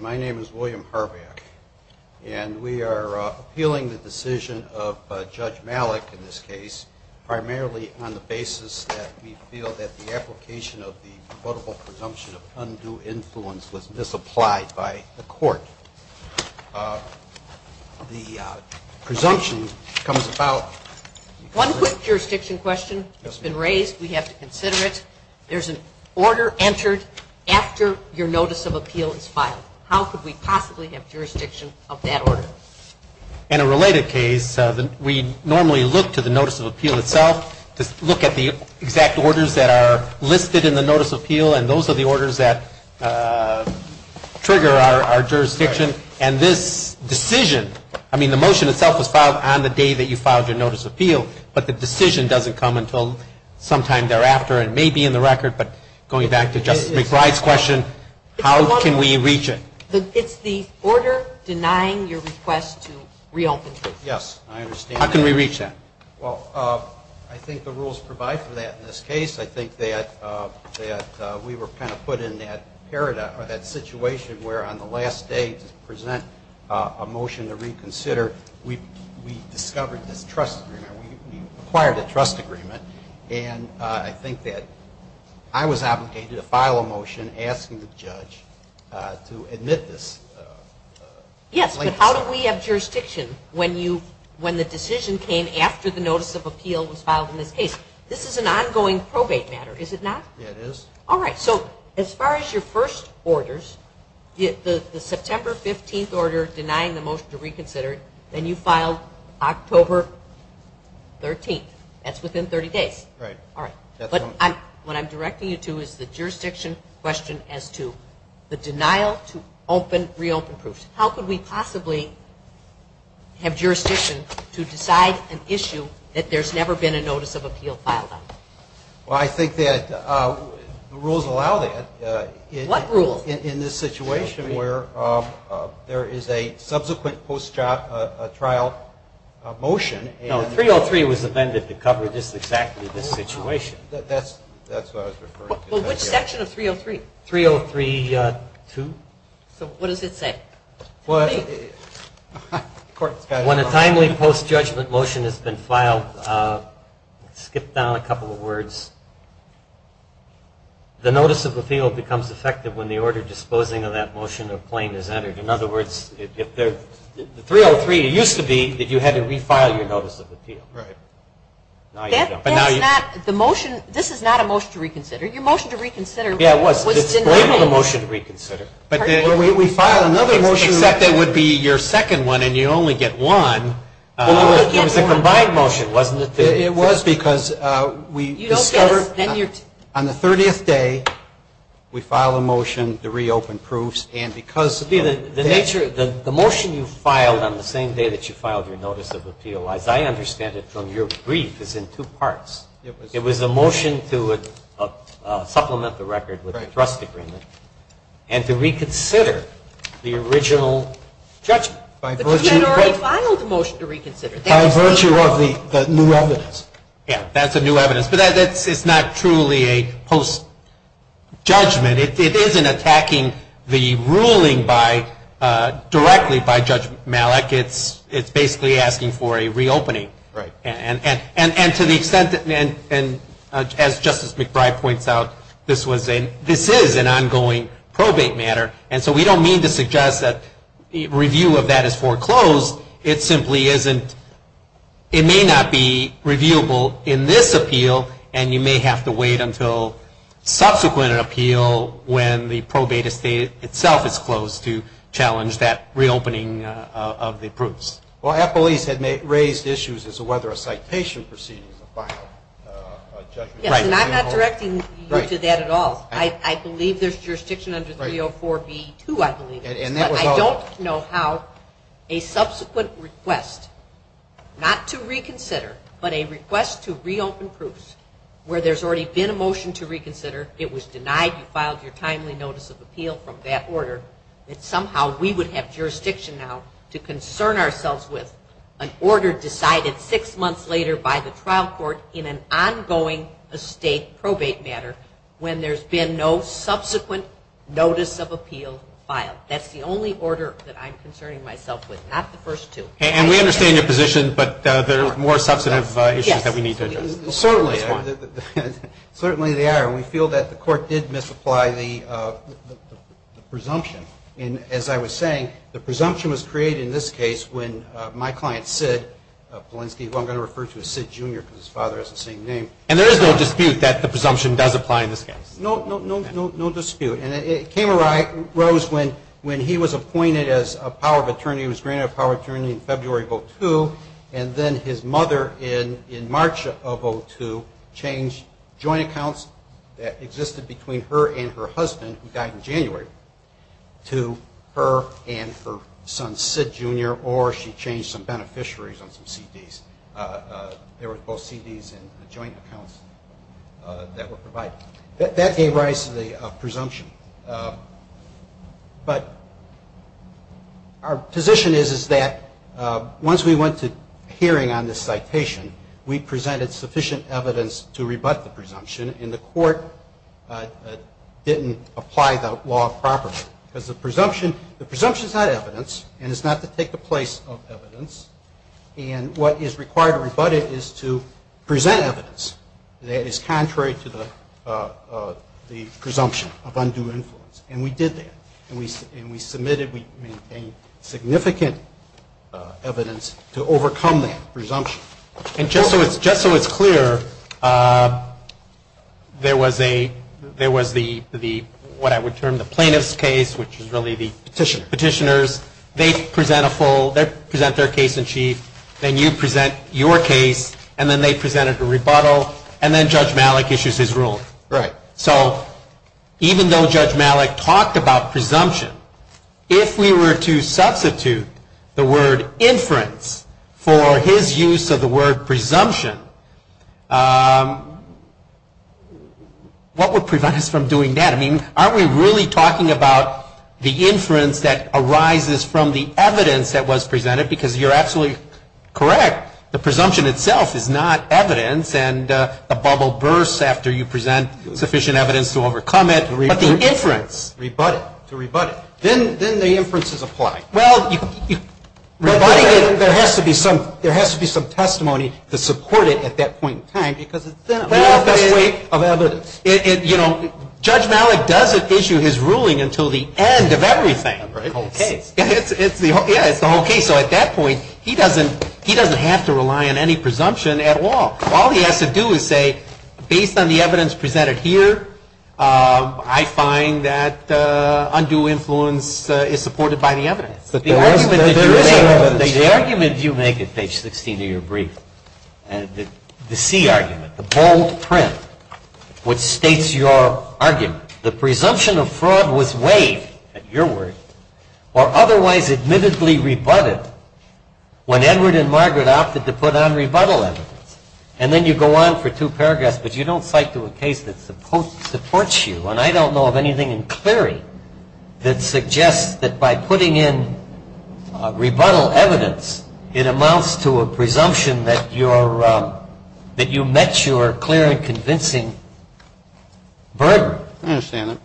My name is William Harvack and we are appealing the decision of Judge Malik in this case primarily on the basis that we feel that the application of the quotable presumption of undue influence was misapplied by the court. The presumption comes about... One quick jurisdiction question that has been raised. We have to consider it. There is an order entered after your notice of appeal is filed. How could we possibly have jurisdiction of that order? In a related case, we normally look to the notice of appeal itself to look at the exact orders that are listed in the notice of appeal and those are the orders that trigger our jurisdiction. And this decision, I mean the motion itself was filed on the day that you filed your notice of appeal, but the decision doesn't come until sometime thereafter. It may be in the record, but going back to Justice McBride's question, how can we reach it? It's the order denying your request to reopen the case. Yes, I understand. How can we reach that? Well, I think the rules provide for that in this case. I think that we were kind of put in that paradigm or that situation where on the last day to present a motion to reconsider, we discovered this trust agreement, we acquired a trust agreement, and I think that I was obligated to file a motion asking the judge to admit this late decision. Yes, but how do we have jurisdiction when the decision came after the notice of appeal was filed in this case? This is an ongoing probate matter, is it not? Yes, it is. All right, so as far as your first orders, the September 15th order denying the motion to reconsider, then you filed October 13th. That's within 30 days. Right. All right. That's correct. What I'm directing you to is the jurisdiction question as to the denial to reopen proofs. How could we possibly have jurisdiction to decide an issue that there's never been a notice of appeal filed on? Well, I think that the rules allow that. What rules? In this situation where there is a subsequent post-trial motion and No, 303 was amended to cover just exactly this situation. That's what I was referring to. Well, which section of 303? 303-2. So what does it say? When a timely post-judgment motion has been filed, skip down a couple of words, the notice of appeal becomes effective when the order disposing of that motion of claim is entered. In other words, 303, it used to be that you had to refile your notice of appeal. Right. Now you don't. This is not a motion to reconsider. Your motion to reconsider was denied. But we filed another motion. Except it would be your second one and you only get one. It was a combined motion, wasn't it? It was because we discovered on the 30th day we filed a motion to reopen proofs and because The motion you filed on the same day that you filed your notice of appeal, as I understand it from your brief, is in two parts. It was a motion to supplement the record with a trust agreement and to reconsider the original judgment. But you had already filed a motion to reconsider. By virtue of the new evidence. Yeah, that's a new evidence. But it's not truly a post-judgment. It isn't attacking the ruling directly by Judge Malik. It's basically asking for a reopening. Right. And to the extent that, as Justice McBride points out, this is an ongoing probate matter. And so we don't mean to suggest that review of that is foreclosed. It simply isn't. It may not be reviewable in this appeal and you may have to wait until subsequent appeal when the probate estate itself is closed to challenge that reopening of the proofs. Well, Appleese had raised issues as to whether a citation proceeding is a final judgment. Yes, and I'm not directing you to that at all. I believe there's jurisdiction under 304B2, I believe. I don't know how a subsequent request, not to reconsider, but a request to reopen proofs where there's already been a motion to reconsider, it was denied, you filed your timely notice of appeal from that order, that somehow we would have jurisdiction now to concern ourselves with an order decided six months later by the trial court in an ongoing estate probate matter when there's been no subsequent notice of appeal filed. That's the only order that I'm concerning myself with, not the first two. And we understand your position, but there are more substantive issues that we need to address. Certainly they are. We feel that the court did misapply the presumption. And as I was saying, the presumption was created in this case when my client, Sid Polinsky, who I'm going to refer to as Sid Jr. because his father has the same name. And there is no dispute that the presumption does apply in this case? No dispute. And it came arose when he was appointed as a power of attorney, he was granted a power of attorney in February of 2002, and then his mother in March of 2002 changed joint accounts that existed between her and her husband, who died in January, to her and her son, Sid Jr., or she changed some beneficiaries on some CDs. There were both CDs and joint accounts that were provided. That gave rise to the presumption. But our position is that once we went to hearing on this citation, we presented sufficient evidence to rebut the presumption, and the court didn't apply the law properly. Because the presumption is not evidence, and it's not to take the place of evidence. And what is required to rebut it is to present evidence that is contrary to the presumption of undue influence. And we did that. And we submitted, we maintained significant evidence to overcome that presumption. And just so it's clear, there was what I would term the plaintiff's case, which is really the petitioner's, they present their case in chief, then you present your case, and then they presented a rebuttal, and then Judge Malik issues his ruling. So even though Judge Malik talked about presumption, if we were to substitute the word inference for his use of the word presumption, what would prevent us from doing that? I mean, aren't we really talking about the inference that arises from the evidence that was presented? Because you're absolutely correct. The presumption itself is not evidence, and the bubble bursts after you present sufficient evidence to overcome it. But the inference. Rebut it. To rebut it. Then the inferences apply. Well, rebutting it, there has to be some testimony to support it at that point in time, because it's not the best way of evidence. You know, Judge Malik doesn't issue his ruling until the end of everything. The whole case. Yeah, it's the whole case. So at that point, he doesn't have to rely on any presumption at all. All he has to do is say, based on the evidence presented here, I find that undue influence is supported by the evidence. The argument you make at page 16 of your brief, the C argument, the bold print which states your argument, the presumption of fraud was waived, at your word, or otherwise admittedly rebutted when Edward and Margaret opted to put on rebuttal evidence. And then you go on for two paragraphs, but you don't cite to a case that supports you. And I don't know of anything in Cleary that suggests that by putting in rebuttal evidence, it amounts to a presumption that you met your clear and convincing burden. I understand that.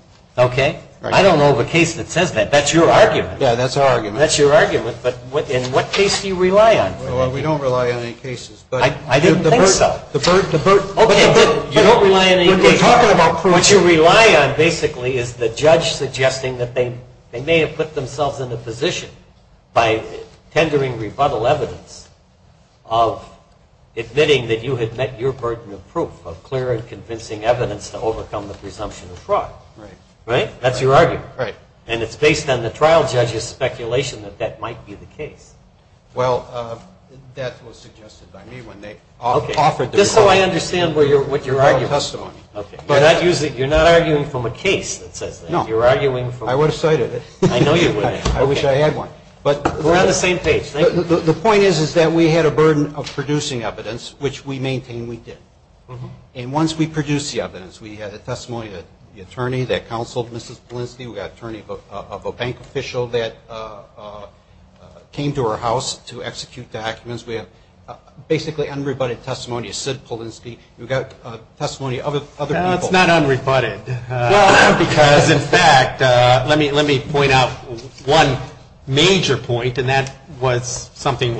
Okay? Right. I don't know of a case that says that. That's your argument. Yeah, that's our argument. That's your argument. But in what case do you rely on? Well, we don't rely on any cases. I didn't think so. The burden. Okay. You don't rely on any cases. We're talking about proof. What you rely on, basically, is the judge suggesting that they may have put themselves in a position by tendering rebuttal evidence of admitting that you had met your burden of proof, of clear and convincing evidence to overcome the presumption of fraud. Right. Right? That's your argument. Right. And it's based on the trial judge's speculation that that might be the case. Well, that was suggested by me when they offered the rebuttal. Just so I understand what you're arguing. Rebuttal testimony. Okay. You're not arguing from a case that says that. No. You're arguing from. I would have cited it. I know you would have. I wish I had one. We're on the same page. Thank you. The point is that we had a burden of producing evidence, which we maintain we did. And once we produced the evidence, we had a testimony of the attorney that counseled Mrs. Polinsky. We got a testimony of a bank official that came to our house to execute documents. We have basically unrebutted testimony of Sid Polinsky. We've got testimony of other people. Well, it's not unrebutted because, in fact, let me point out one major point, and that was something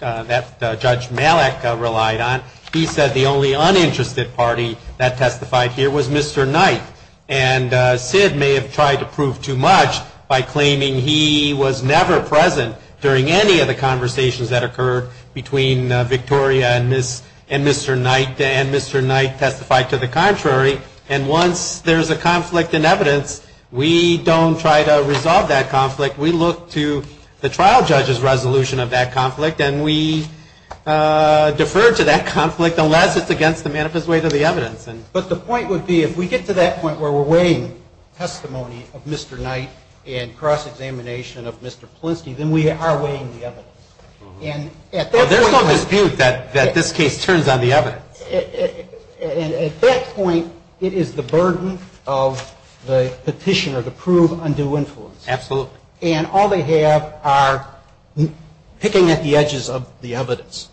that Judge Malek relied on. He said the only uninterested party that testified here was Mr. Knight. And Sid may have tried to prove too much by claiming he was never present during any of the conversations that occurred between Victoria and Mr. Knight, and Mr. Knight testified to the contrary. And once there's a conflict in evidence, we don't try to resolve that conflict. We look to the trial judge's resolution of that conflict, and we defer to that conflict unless it's against the manifest weight of the evidence. But the point would be if we get to that point where we're weighing testimony of Mr. Knight and cross-examination of Mr. Polinsky, then we are weighing the evidence. There's no dispute that this case turns on the evidence. At that point, it is the burden of the petitioner to prove undue influence. Absolutely. And all they have are picking at the edges of the evidence.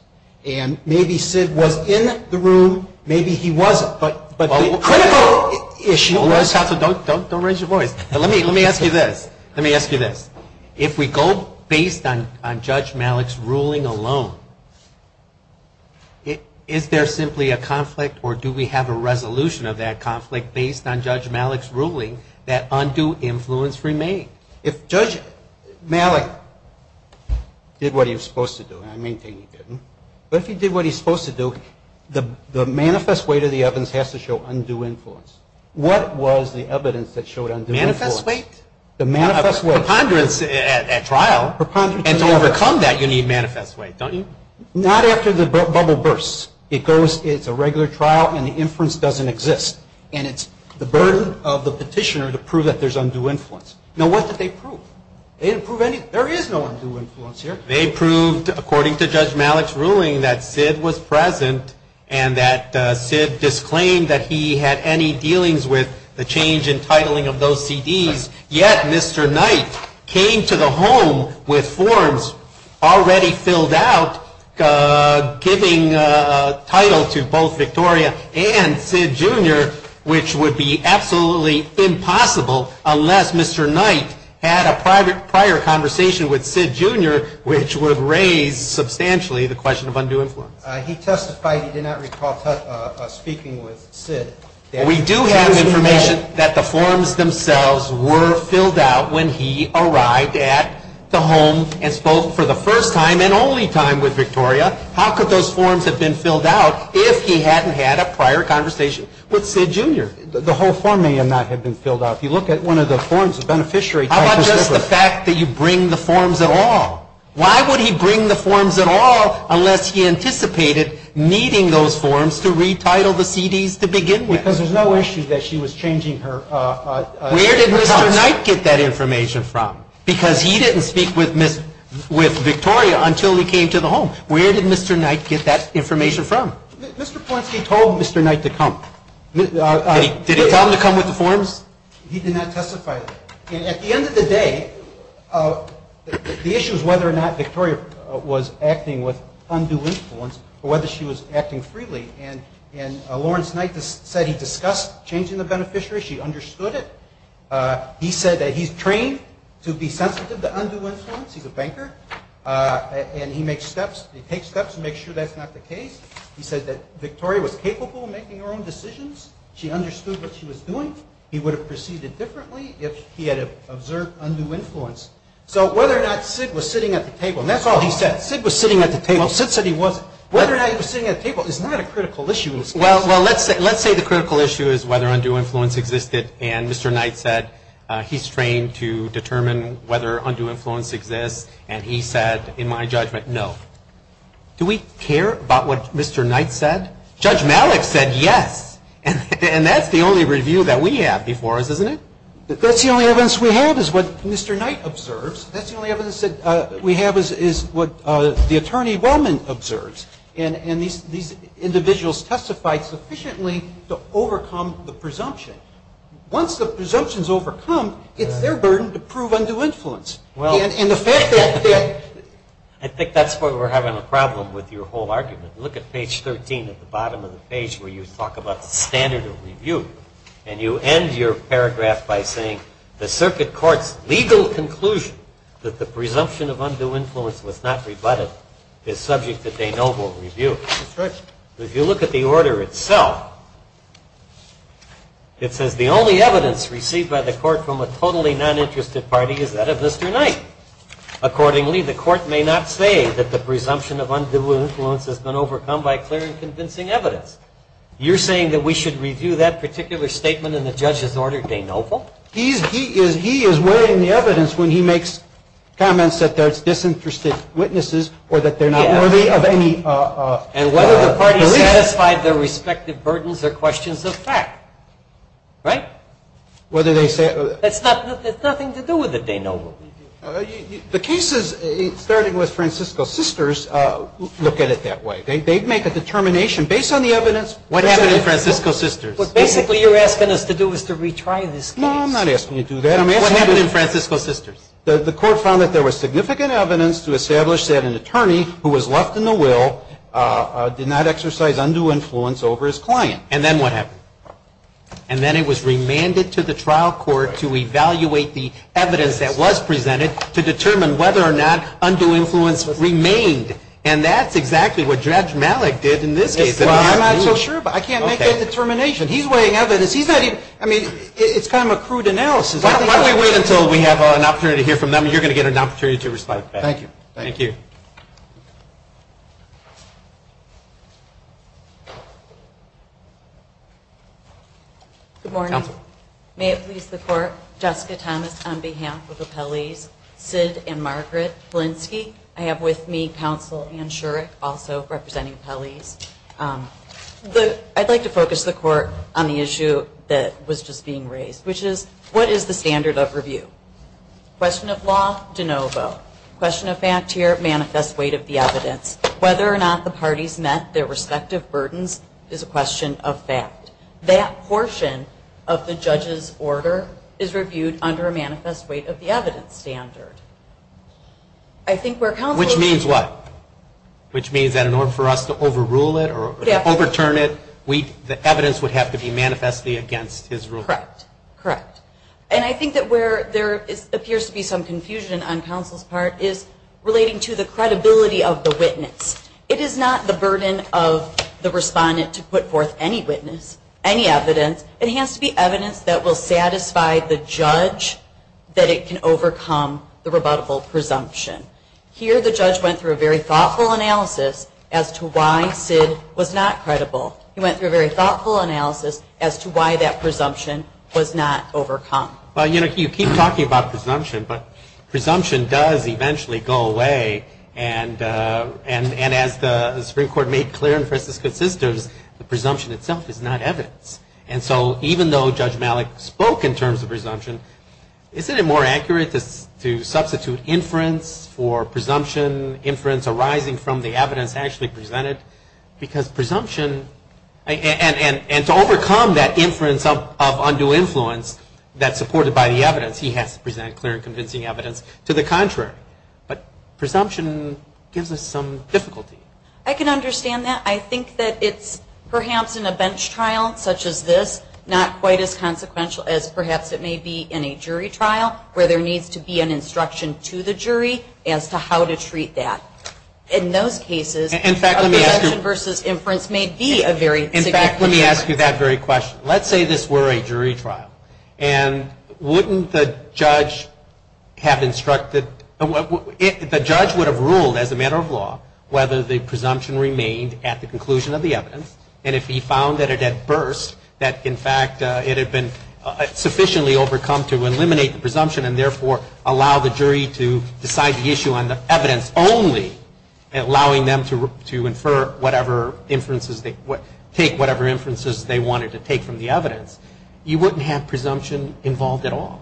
And maybe Sid was in the room. Maybe he wasn't. But the critical issue was... Counsel, don't raise your voice. Let me ask you this. Let me ask you this. If we go based on Judge Malek's ruling alone, is there simply a conflict, or do we have a resolution of that conflict based on Judge Malek's ruling that undue influence remained? If Judge Malek did what he was supposed to do, and I maintain he didn't, but if he did what he was supposed to do, the manifest weight of the evidence has to show undue influence. What was the evidence that showed undue influence? Manifest weight? The manifest weight. Preponderance at trial. And to overcome that, you need manifest weight, don't you? Not after the bubble bursts. It's a regular trial, and the inference doesn't exist. And it's the burden of the petitioner to prove that there's undue influence. Now, what did they prove? They didn't prove anything. There is no undue influence here. They proved, according to Judge Malek's ruling, that Sid was present and that Sid disclaimed that he had any dealings with the change in titling of those CDs, yet Mr. Knight came to the home with forms already filled out giving title to both Victoria and Sid, Jr., which would be absolutely impossible unless Mr. Knight had a prior conversation with Sid, Jr., which would raise substantially the question of undue influence. He testified he did not recall speaking with Sid. We do have information that the forms themselves were filled out when he arrived at the home and spoke for the first time and only time with Victoria. How could those forms have been filled out if he hadn't had a prior conversation with Sid, Jr.? The whole form may not have been filled out. If you look at one of the forms, the beneficiary type is different. How about just the fact that you bring the forms at all? Why would he bring the forms at all unless he anticipated needing those forms to retitle the CDs to begin with? Because there's no issue that she was changing her titles. Where did Mr. Knight get that information from? Because he didn't speak with Victoria until he came to the home. Where did Mr. Knight get that information from? Mr. Polanski told Mr. Knight to come. Did he tell him to come with the forms? He did not testify. And at the end of the day, the issue is whether or not Victoria was acting with undue influence or whether she was acting freely. And Lawrence Knight said he discussed changing the beneficiary. She understood it. He said that he's trained to be sensitive to undue influence. He's a banker. And he takes steps to make sure that's not the case. He said that Victoria was capable of making her own decisions. She understood what she was doing. He would have proceeded differently if he had observed undue influence. So whether or not Sid was sitting at the table, and that's all he said. Sid was sitting at the table. Sid said he wasn't. Whether or not he was sitting at the table is not a critical issue. Well, let's say the critical issue is whether undue influence existed. And Mr. Knight said he's trained to determine whether undue influence exists. And he said, in my judgment, no. Do we care about what Mr. Knight said? Judge Malik said yes. And that's the only review that we have before us, isn't it? That's the only evidence we have is what Mr. Knight observes. That's the only evidence that we have is what the Attorney Wellman observes. And these individuals testified sufficiently to overcome the presumption. Once the presumption is overcome, it's their burden to prove undue influence. And the fact that they're – I think that's where we're having a problem with your whole argument. Look at page 13 at the bottom of the page where you talk about the standard of review. And you end your paragraph by saying, the circuit court's legal conclusion that the presumption of undue influence was not rebutted is subject to de novo review. That's right. If you look at the order itself, it says, the only evidence received by the court from a totally non-interested party is that of Mr. Knight. Accordingly, the court may not say that the presumption of undue influence has been overcome by clear and convincing evidence. You're saying that we should review that particular statement in the judge's order de novo? He is weighing the evidence when he makes comments that there's disinterested witnesses or that they're not worthy of any – And whether the parties satisfied their respective burdens or questions of fact. Right? Whether they – It's nothing to do with de novo. The cases, starting with Francisco's sisters, look at it that way. What happened to Francisco's sisters? What basically you're asking us to do is to retry this case. No, I'm not asking you to do that. What happened in Francisco's sisters? The court found that there was significant evidence to establish that an attorney who was left in the will did not exercise undue influence over his client. And then what happened? And then it was remanded to the trial court to evaluate the evidence that was presented to determine whether or not undue influence remained. And that's exactly what Judge Malik did in this case. Well, I'm not so sure, but I can't make that determination. He's weighing evidence. He's not even – I mean, it's kind of a crude analysis. Why don't we wait until we have an opportunity to hear from them, and you're going to get an opportunity to respond to that. Thank you. Thank you. Good morning. Counsel. May it please the court, Jessica Thomas on behalf of the appellees, Sid and Margaret Blinsky. I have with me Counsel Anne Shurick, also representing appellees. I'd like to focus the court on the issue that was just being raised, which is what is the standard of review? Question of law, de novo. Question of fact here, manifest weight of the evidence. Whether or not the parties met their respective burdens is a question of fact. That portion of the judge's order is reviewed under a manifest weight of the evidence standard. I think where Counsel – Which means what? Which means that in order for us to overrule it or overturn it, the evidence would have to be manifestly against his ruling. Correct. Correct. And I think that where there appears to be some confusion on Counsel's part is relating to the credibility of the witness. It is not the burden of the respondent to put forth any witness, any evidence. It has to be evidence that will satisfy the judge that it can overcome the rebuttable presumption. Here the judge went through a very thoughtful analysis as to why Sid was not credible. He went through a very thoughtful analysis as to why that presumption was not overcome. Well, you know, you keep talking about presumption, but presumption does eventually go away, and as the Supreme Court made clear in Francisco's systems, the presumption itself is not evidence. And so even though Judge Malik spoke in terms of presumption, isn't it more accurate to substitute inference for presumption, inference arising from the evidence actually presented? Because presumption – and to overcome that inference of undue influence that's supported by the evidence, he has to present clear and convincing evidence to the contrary. But presumption gives us some difficulty. I can understand that. I think that it's perhaps in a bench trial such as this not quite as consequential as perhaps it may be in a jury trial where there needs to be an instruction to the jury as to how to treat that. In those cases, a presumption versus inference may be a very significant difference. In fact, let me ask you that very question. Let's say this were a jury trial, and wouldn't the judge have instructed – the judge would have ruled as a matter of law whether the presumption remained at the conclusion of the evidence. And if he found that it had burst, that in fact it had been sufficiently overcome to eliminate the presumption and therefore allow the jury to decide the issue on the evidence only, allowing them to take whatever inferences they wanted to take from the evidence, you wouldn't have presumption involved at all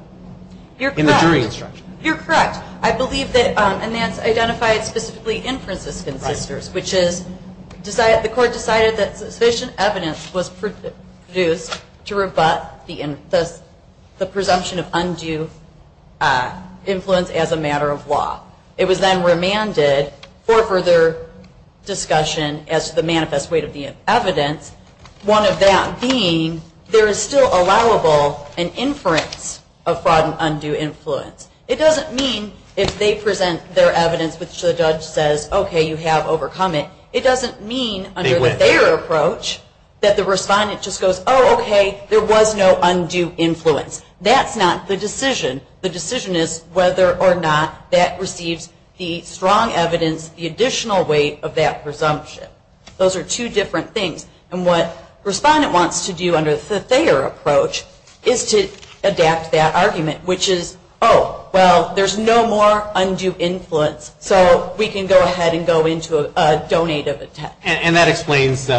in the jury instruction. You're correct. I believe that Anantz identified specifically inferences consisters, which is the court decided that sufficient evidence was produced to rebut the presumption of undue influence as a matter of law. It was then remanded for further discussion as to the manifest weight of the evidence, one of that being there is still allowable an inference of fraud and undue influence. It doesn't mean if they present their evidence which the judge says, okay, you have overcome it. It doesn't mean under the Thayer approach that the respondent just goes, oh, okay, there was no undue influence. That's not the decision. The decision is whether or not that receives the strong evidence, the additional weight of that presumption. Those are two different things. And what the respondent wants to do under the Thayer approach is to adapt that argument, which is, oh, well, there's no more undue influence, so we can go ahead and go into a donated attempt. And that explains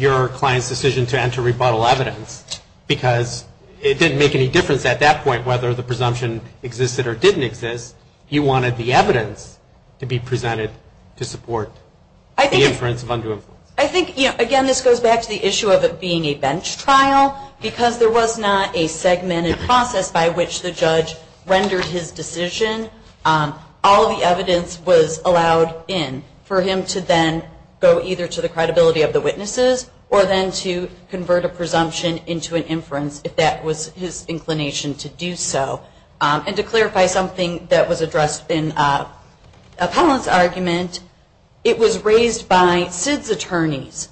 your client's decision to enter rebuttal evidence because it didn't make any difference at that point whether the presumption existed or didn't exist. You wanted the evidence to be presented to support the inference of undue influence. I think, again, this goes back to the issue of it being a bench trial because there was not a segmented process by which the judge rendered his decision. All the evidence was allowed in for him to then go either to the credibility of the witnesses or then to convert a presumption into an inference if that was his inclination to do so. And to clarify something that was addressed in Appellant's argument, it was raised by SID's attorneys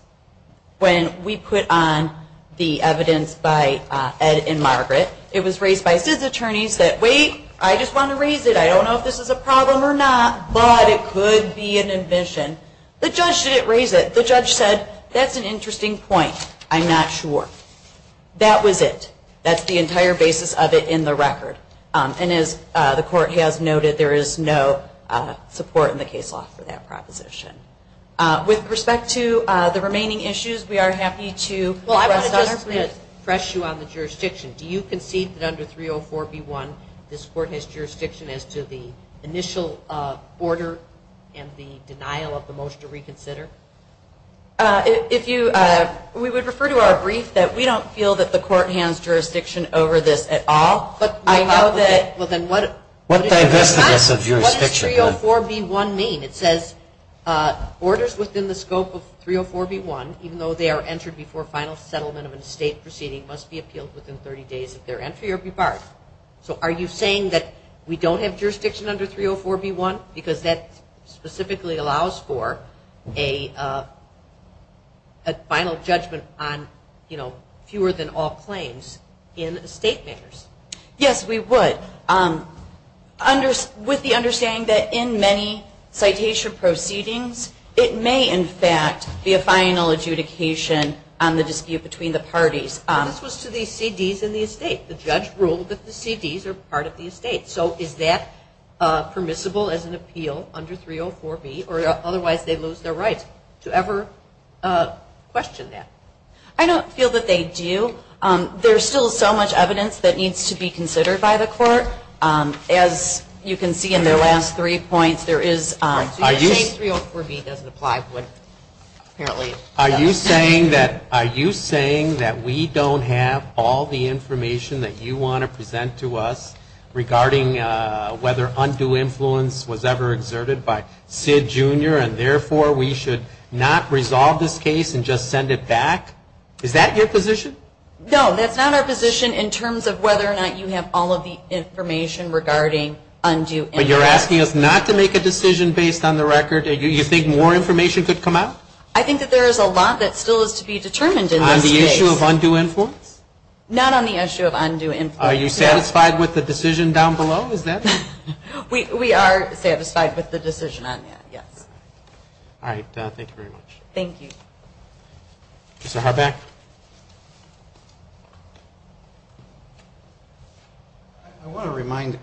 when we put on the evidence by Ed and Margaret. It was raised by SID's attorneys that, wait, I just want to raise it. I don't know if this is a problem or not, but it could be an admission. The judge didn't raise it. The judge said, that's an interesting point. I'm not sure. That was it. That's the entire basis of it in the record. And as the court has noted, there is no support in the case law for that proposition. With respect to the remaining issues, we are happy to address them. Well, I want to just refresh you on the jurisdiction. Do you concede that under 304B1 this court has jurisdiction as to the initial order and the denial of the motion to reconsider? We would refer to our brief that we don't feel that the court hands jurisdiction over this at all. What does 304B1 mean? It says, orders within the scope of 304B1, even though they are entered before final settlement of an estate proceeding, must be appealed within 30 days of their entry or be barred. So are you saying that we don't have jurisdiction under 304B1? Because that specifically allows for a final judgment on fewer than all claims in estate measures. Yes, we would. With the understanding that in many citation proceedings, it may, in fact, be a final adjudication on the dispute between the parties. This was to the CDs in the estate. The judge ruled that the CDs are part of the estate. So is that permissible as an appeal under 304B, or otherwise they lose their right to ever question that? I don't feel that they do. There's still so much evidence that needs to be considered by the court. As you can see in the last three points, there is. 304B doesn't apply. Are you saying that we don't have all the information that you want to present to us regarding whether undue influence was ever exerted by Sid, Jr., and therefore we should not resolve this case and just send it back? Is that your position? No, that's not our position in terms of whether or not you have all of the information regarding undue influence. But you're asking us not to make a decision based on the record? Do you think more information could come out? I think that there is a lot that still is to be determined in this case. On the issue of undue influence? Not on the issue of undue influence. Are you satisfied with the decision down below? We are satisfied with the decision on that, yes. All right. Thank you very much. Thank you. Mr. Harbeck? I want to remind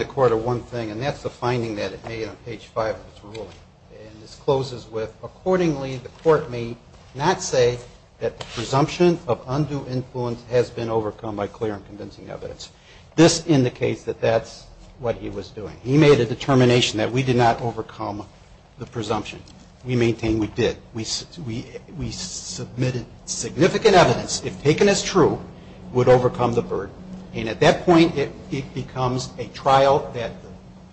the court of one thing, and that's the finding that it made on page 5 of its ruling. And this closes with, accordingly the court may not say that the presumption of undue influence has been overcome by clear and convincing evidence. This indicates that that's what he was doing. He made a determination that we did not overcome the presumption. We maintain we did. We submitted significant evidence, if taken as true, would overcome the burden. And at that point it becomes a trial that the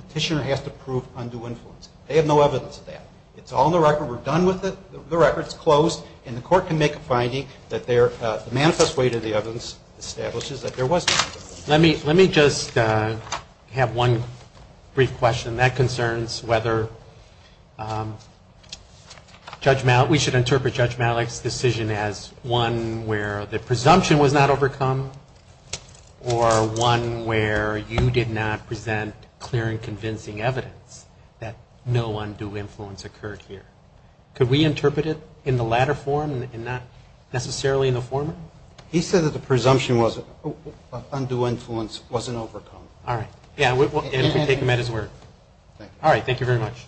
petitioner has to prove undue influence. They have no evidence of that. It's all in the record. We're done with it. The record's closed. And the court can make a finding that the manifest weight of the evidence establishes that there was undue influence. Let me just have one brief question. That concerns whether Judge Malik, we should interpret Judge Malik's decision as one where the presumption was not overcome or one where you did not present clear and convincing evidence that no undue influence occurred here. Could we interpret it in the latter form and not necessarily in the former? He said that the presumption of undue influence wasn't overcome. All right. And we'll take him at his word. All right. Thank you very much.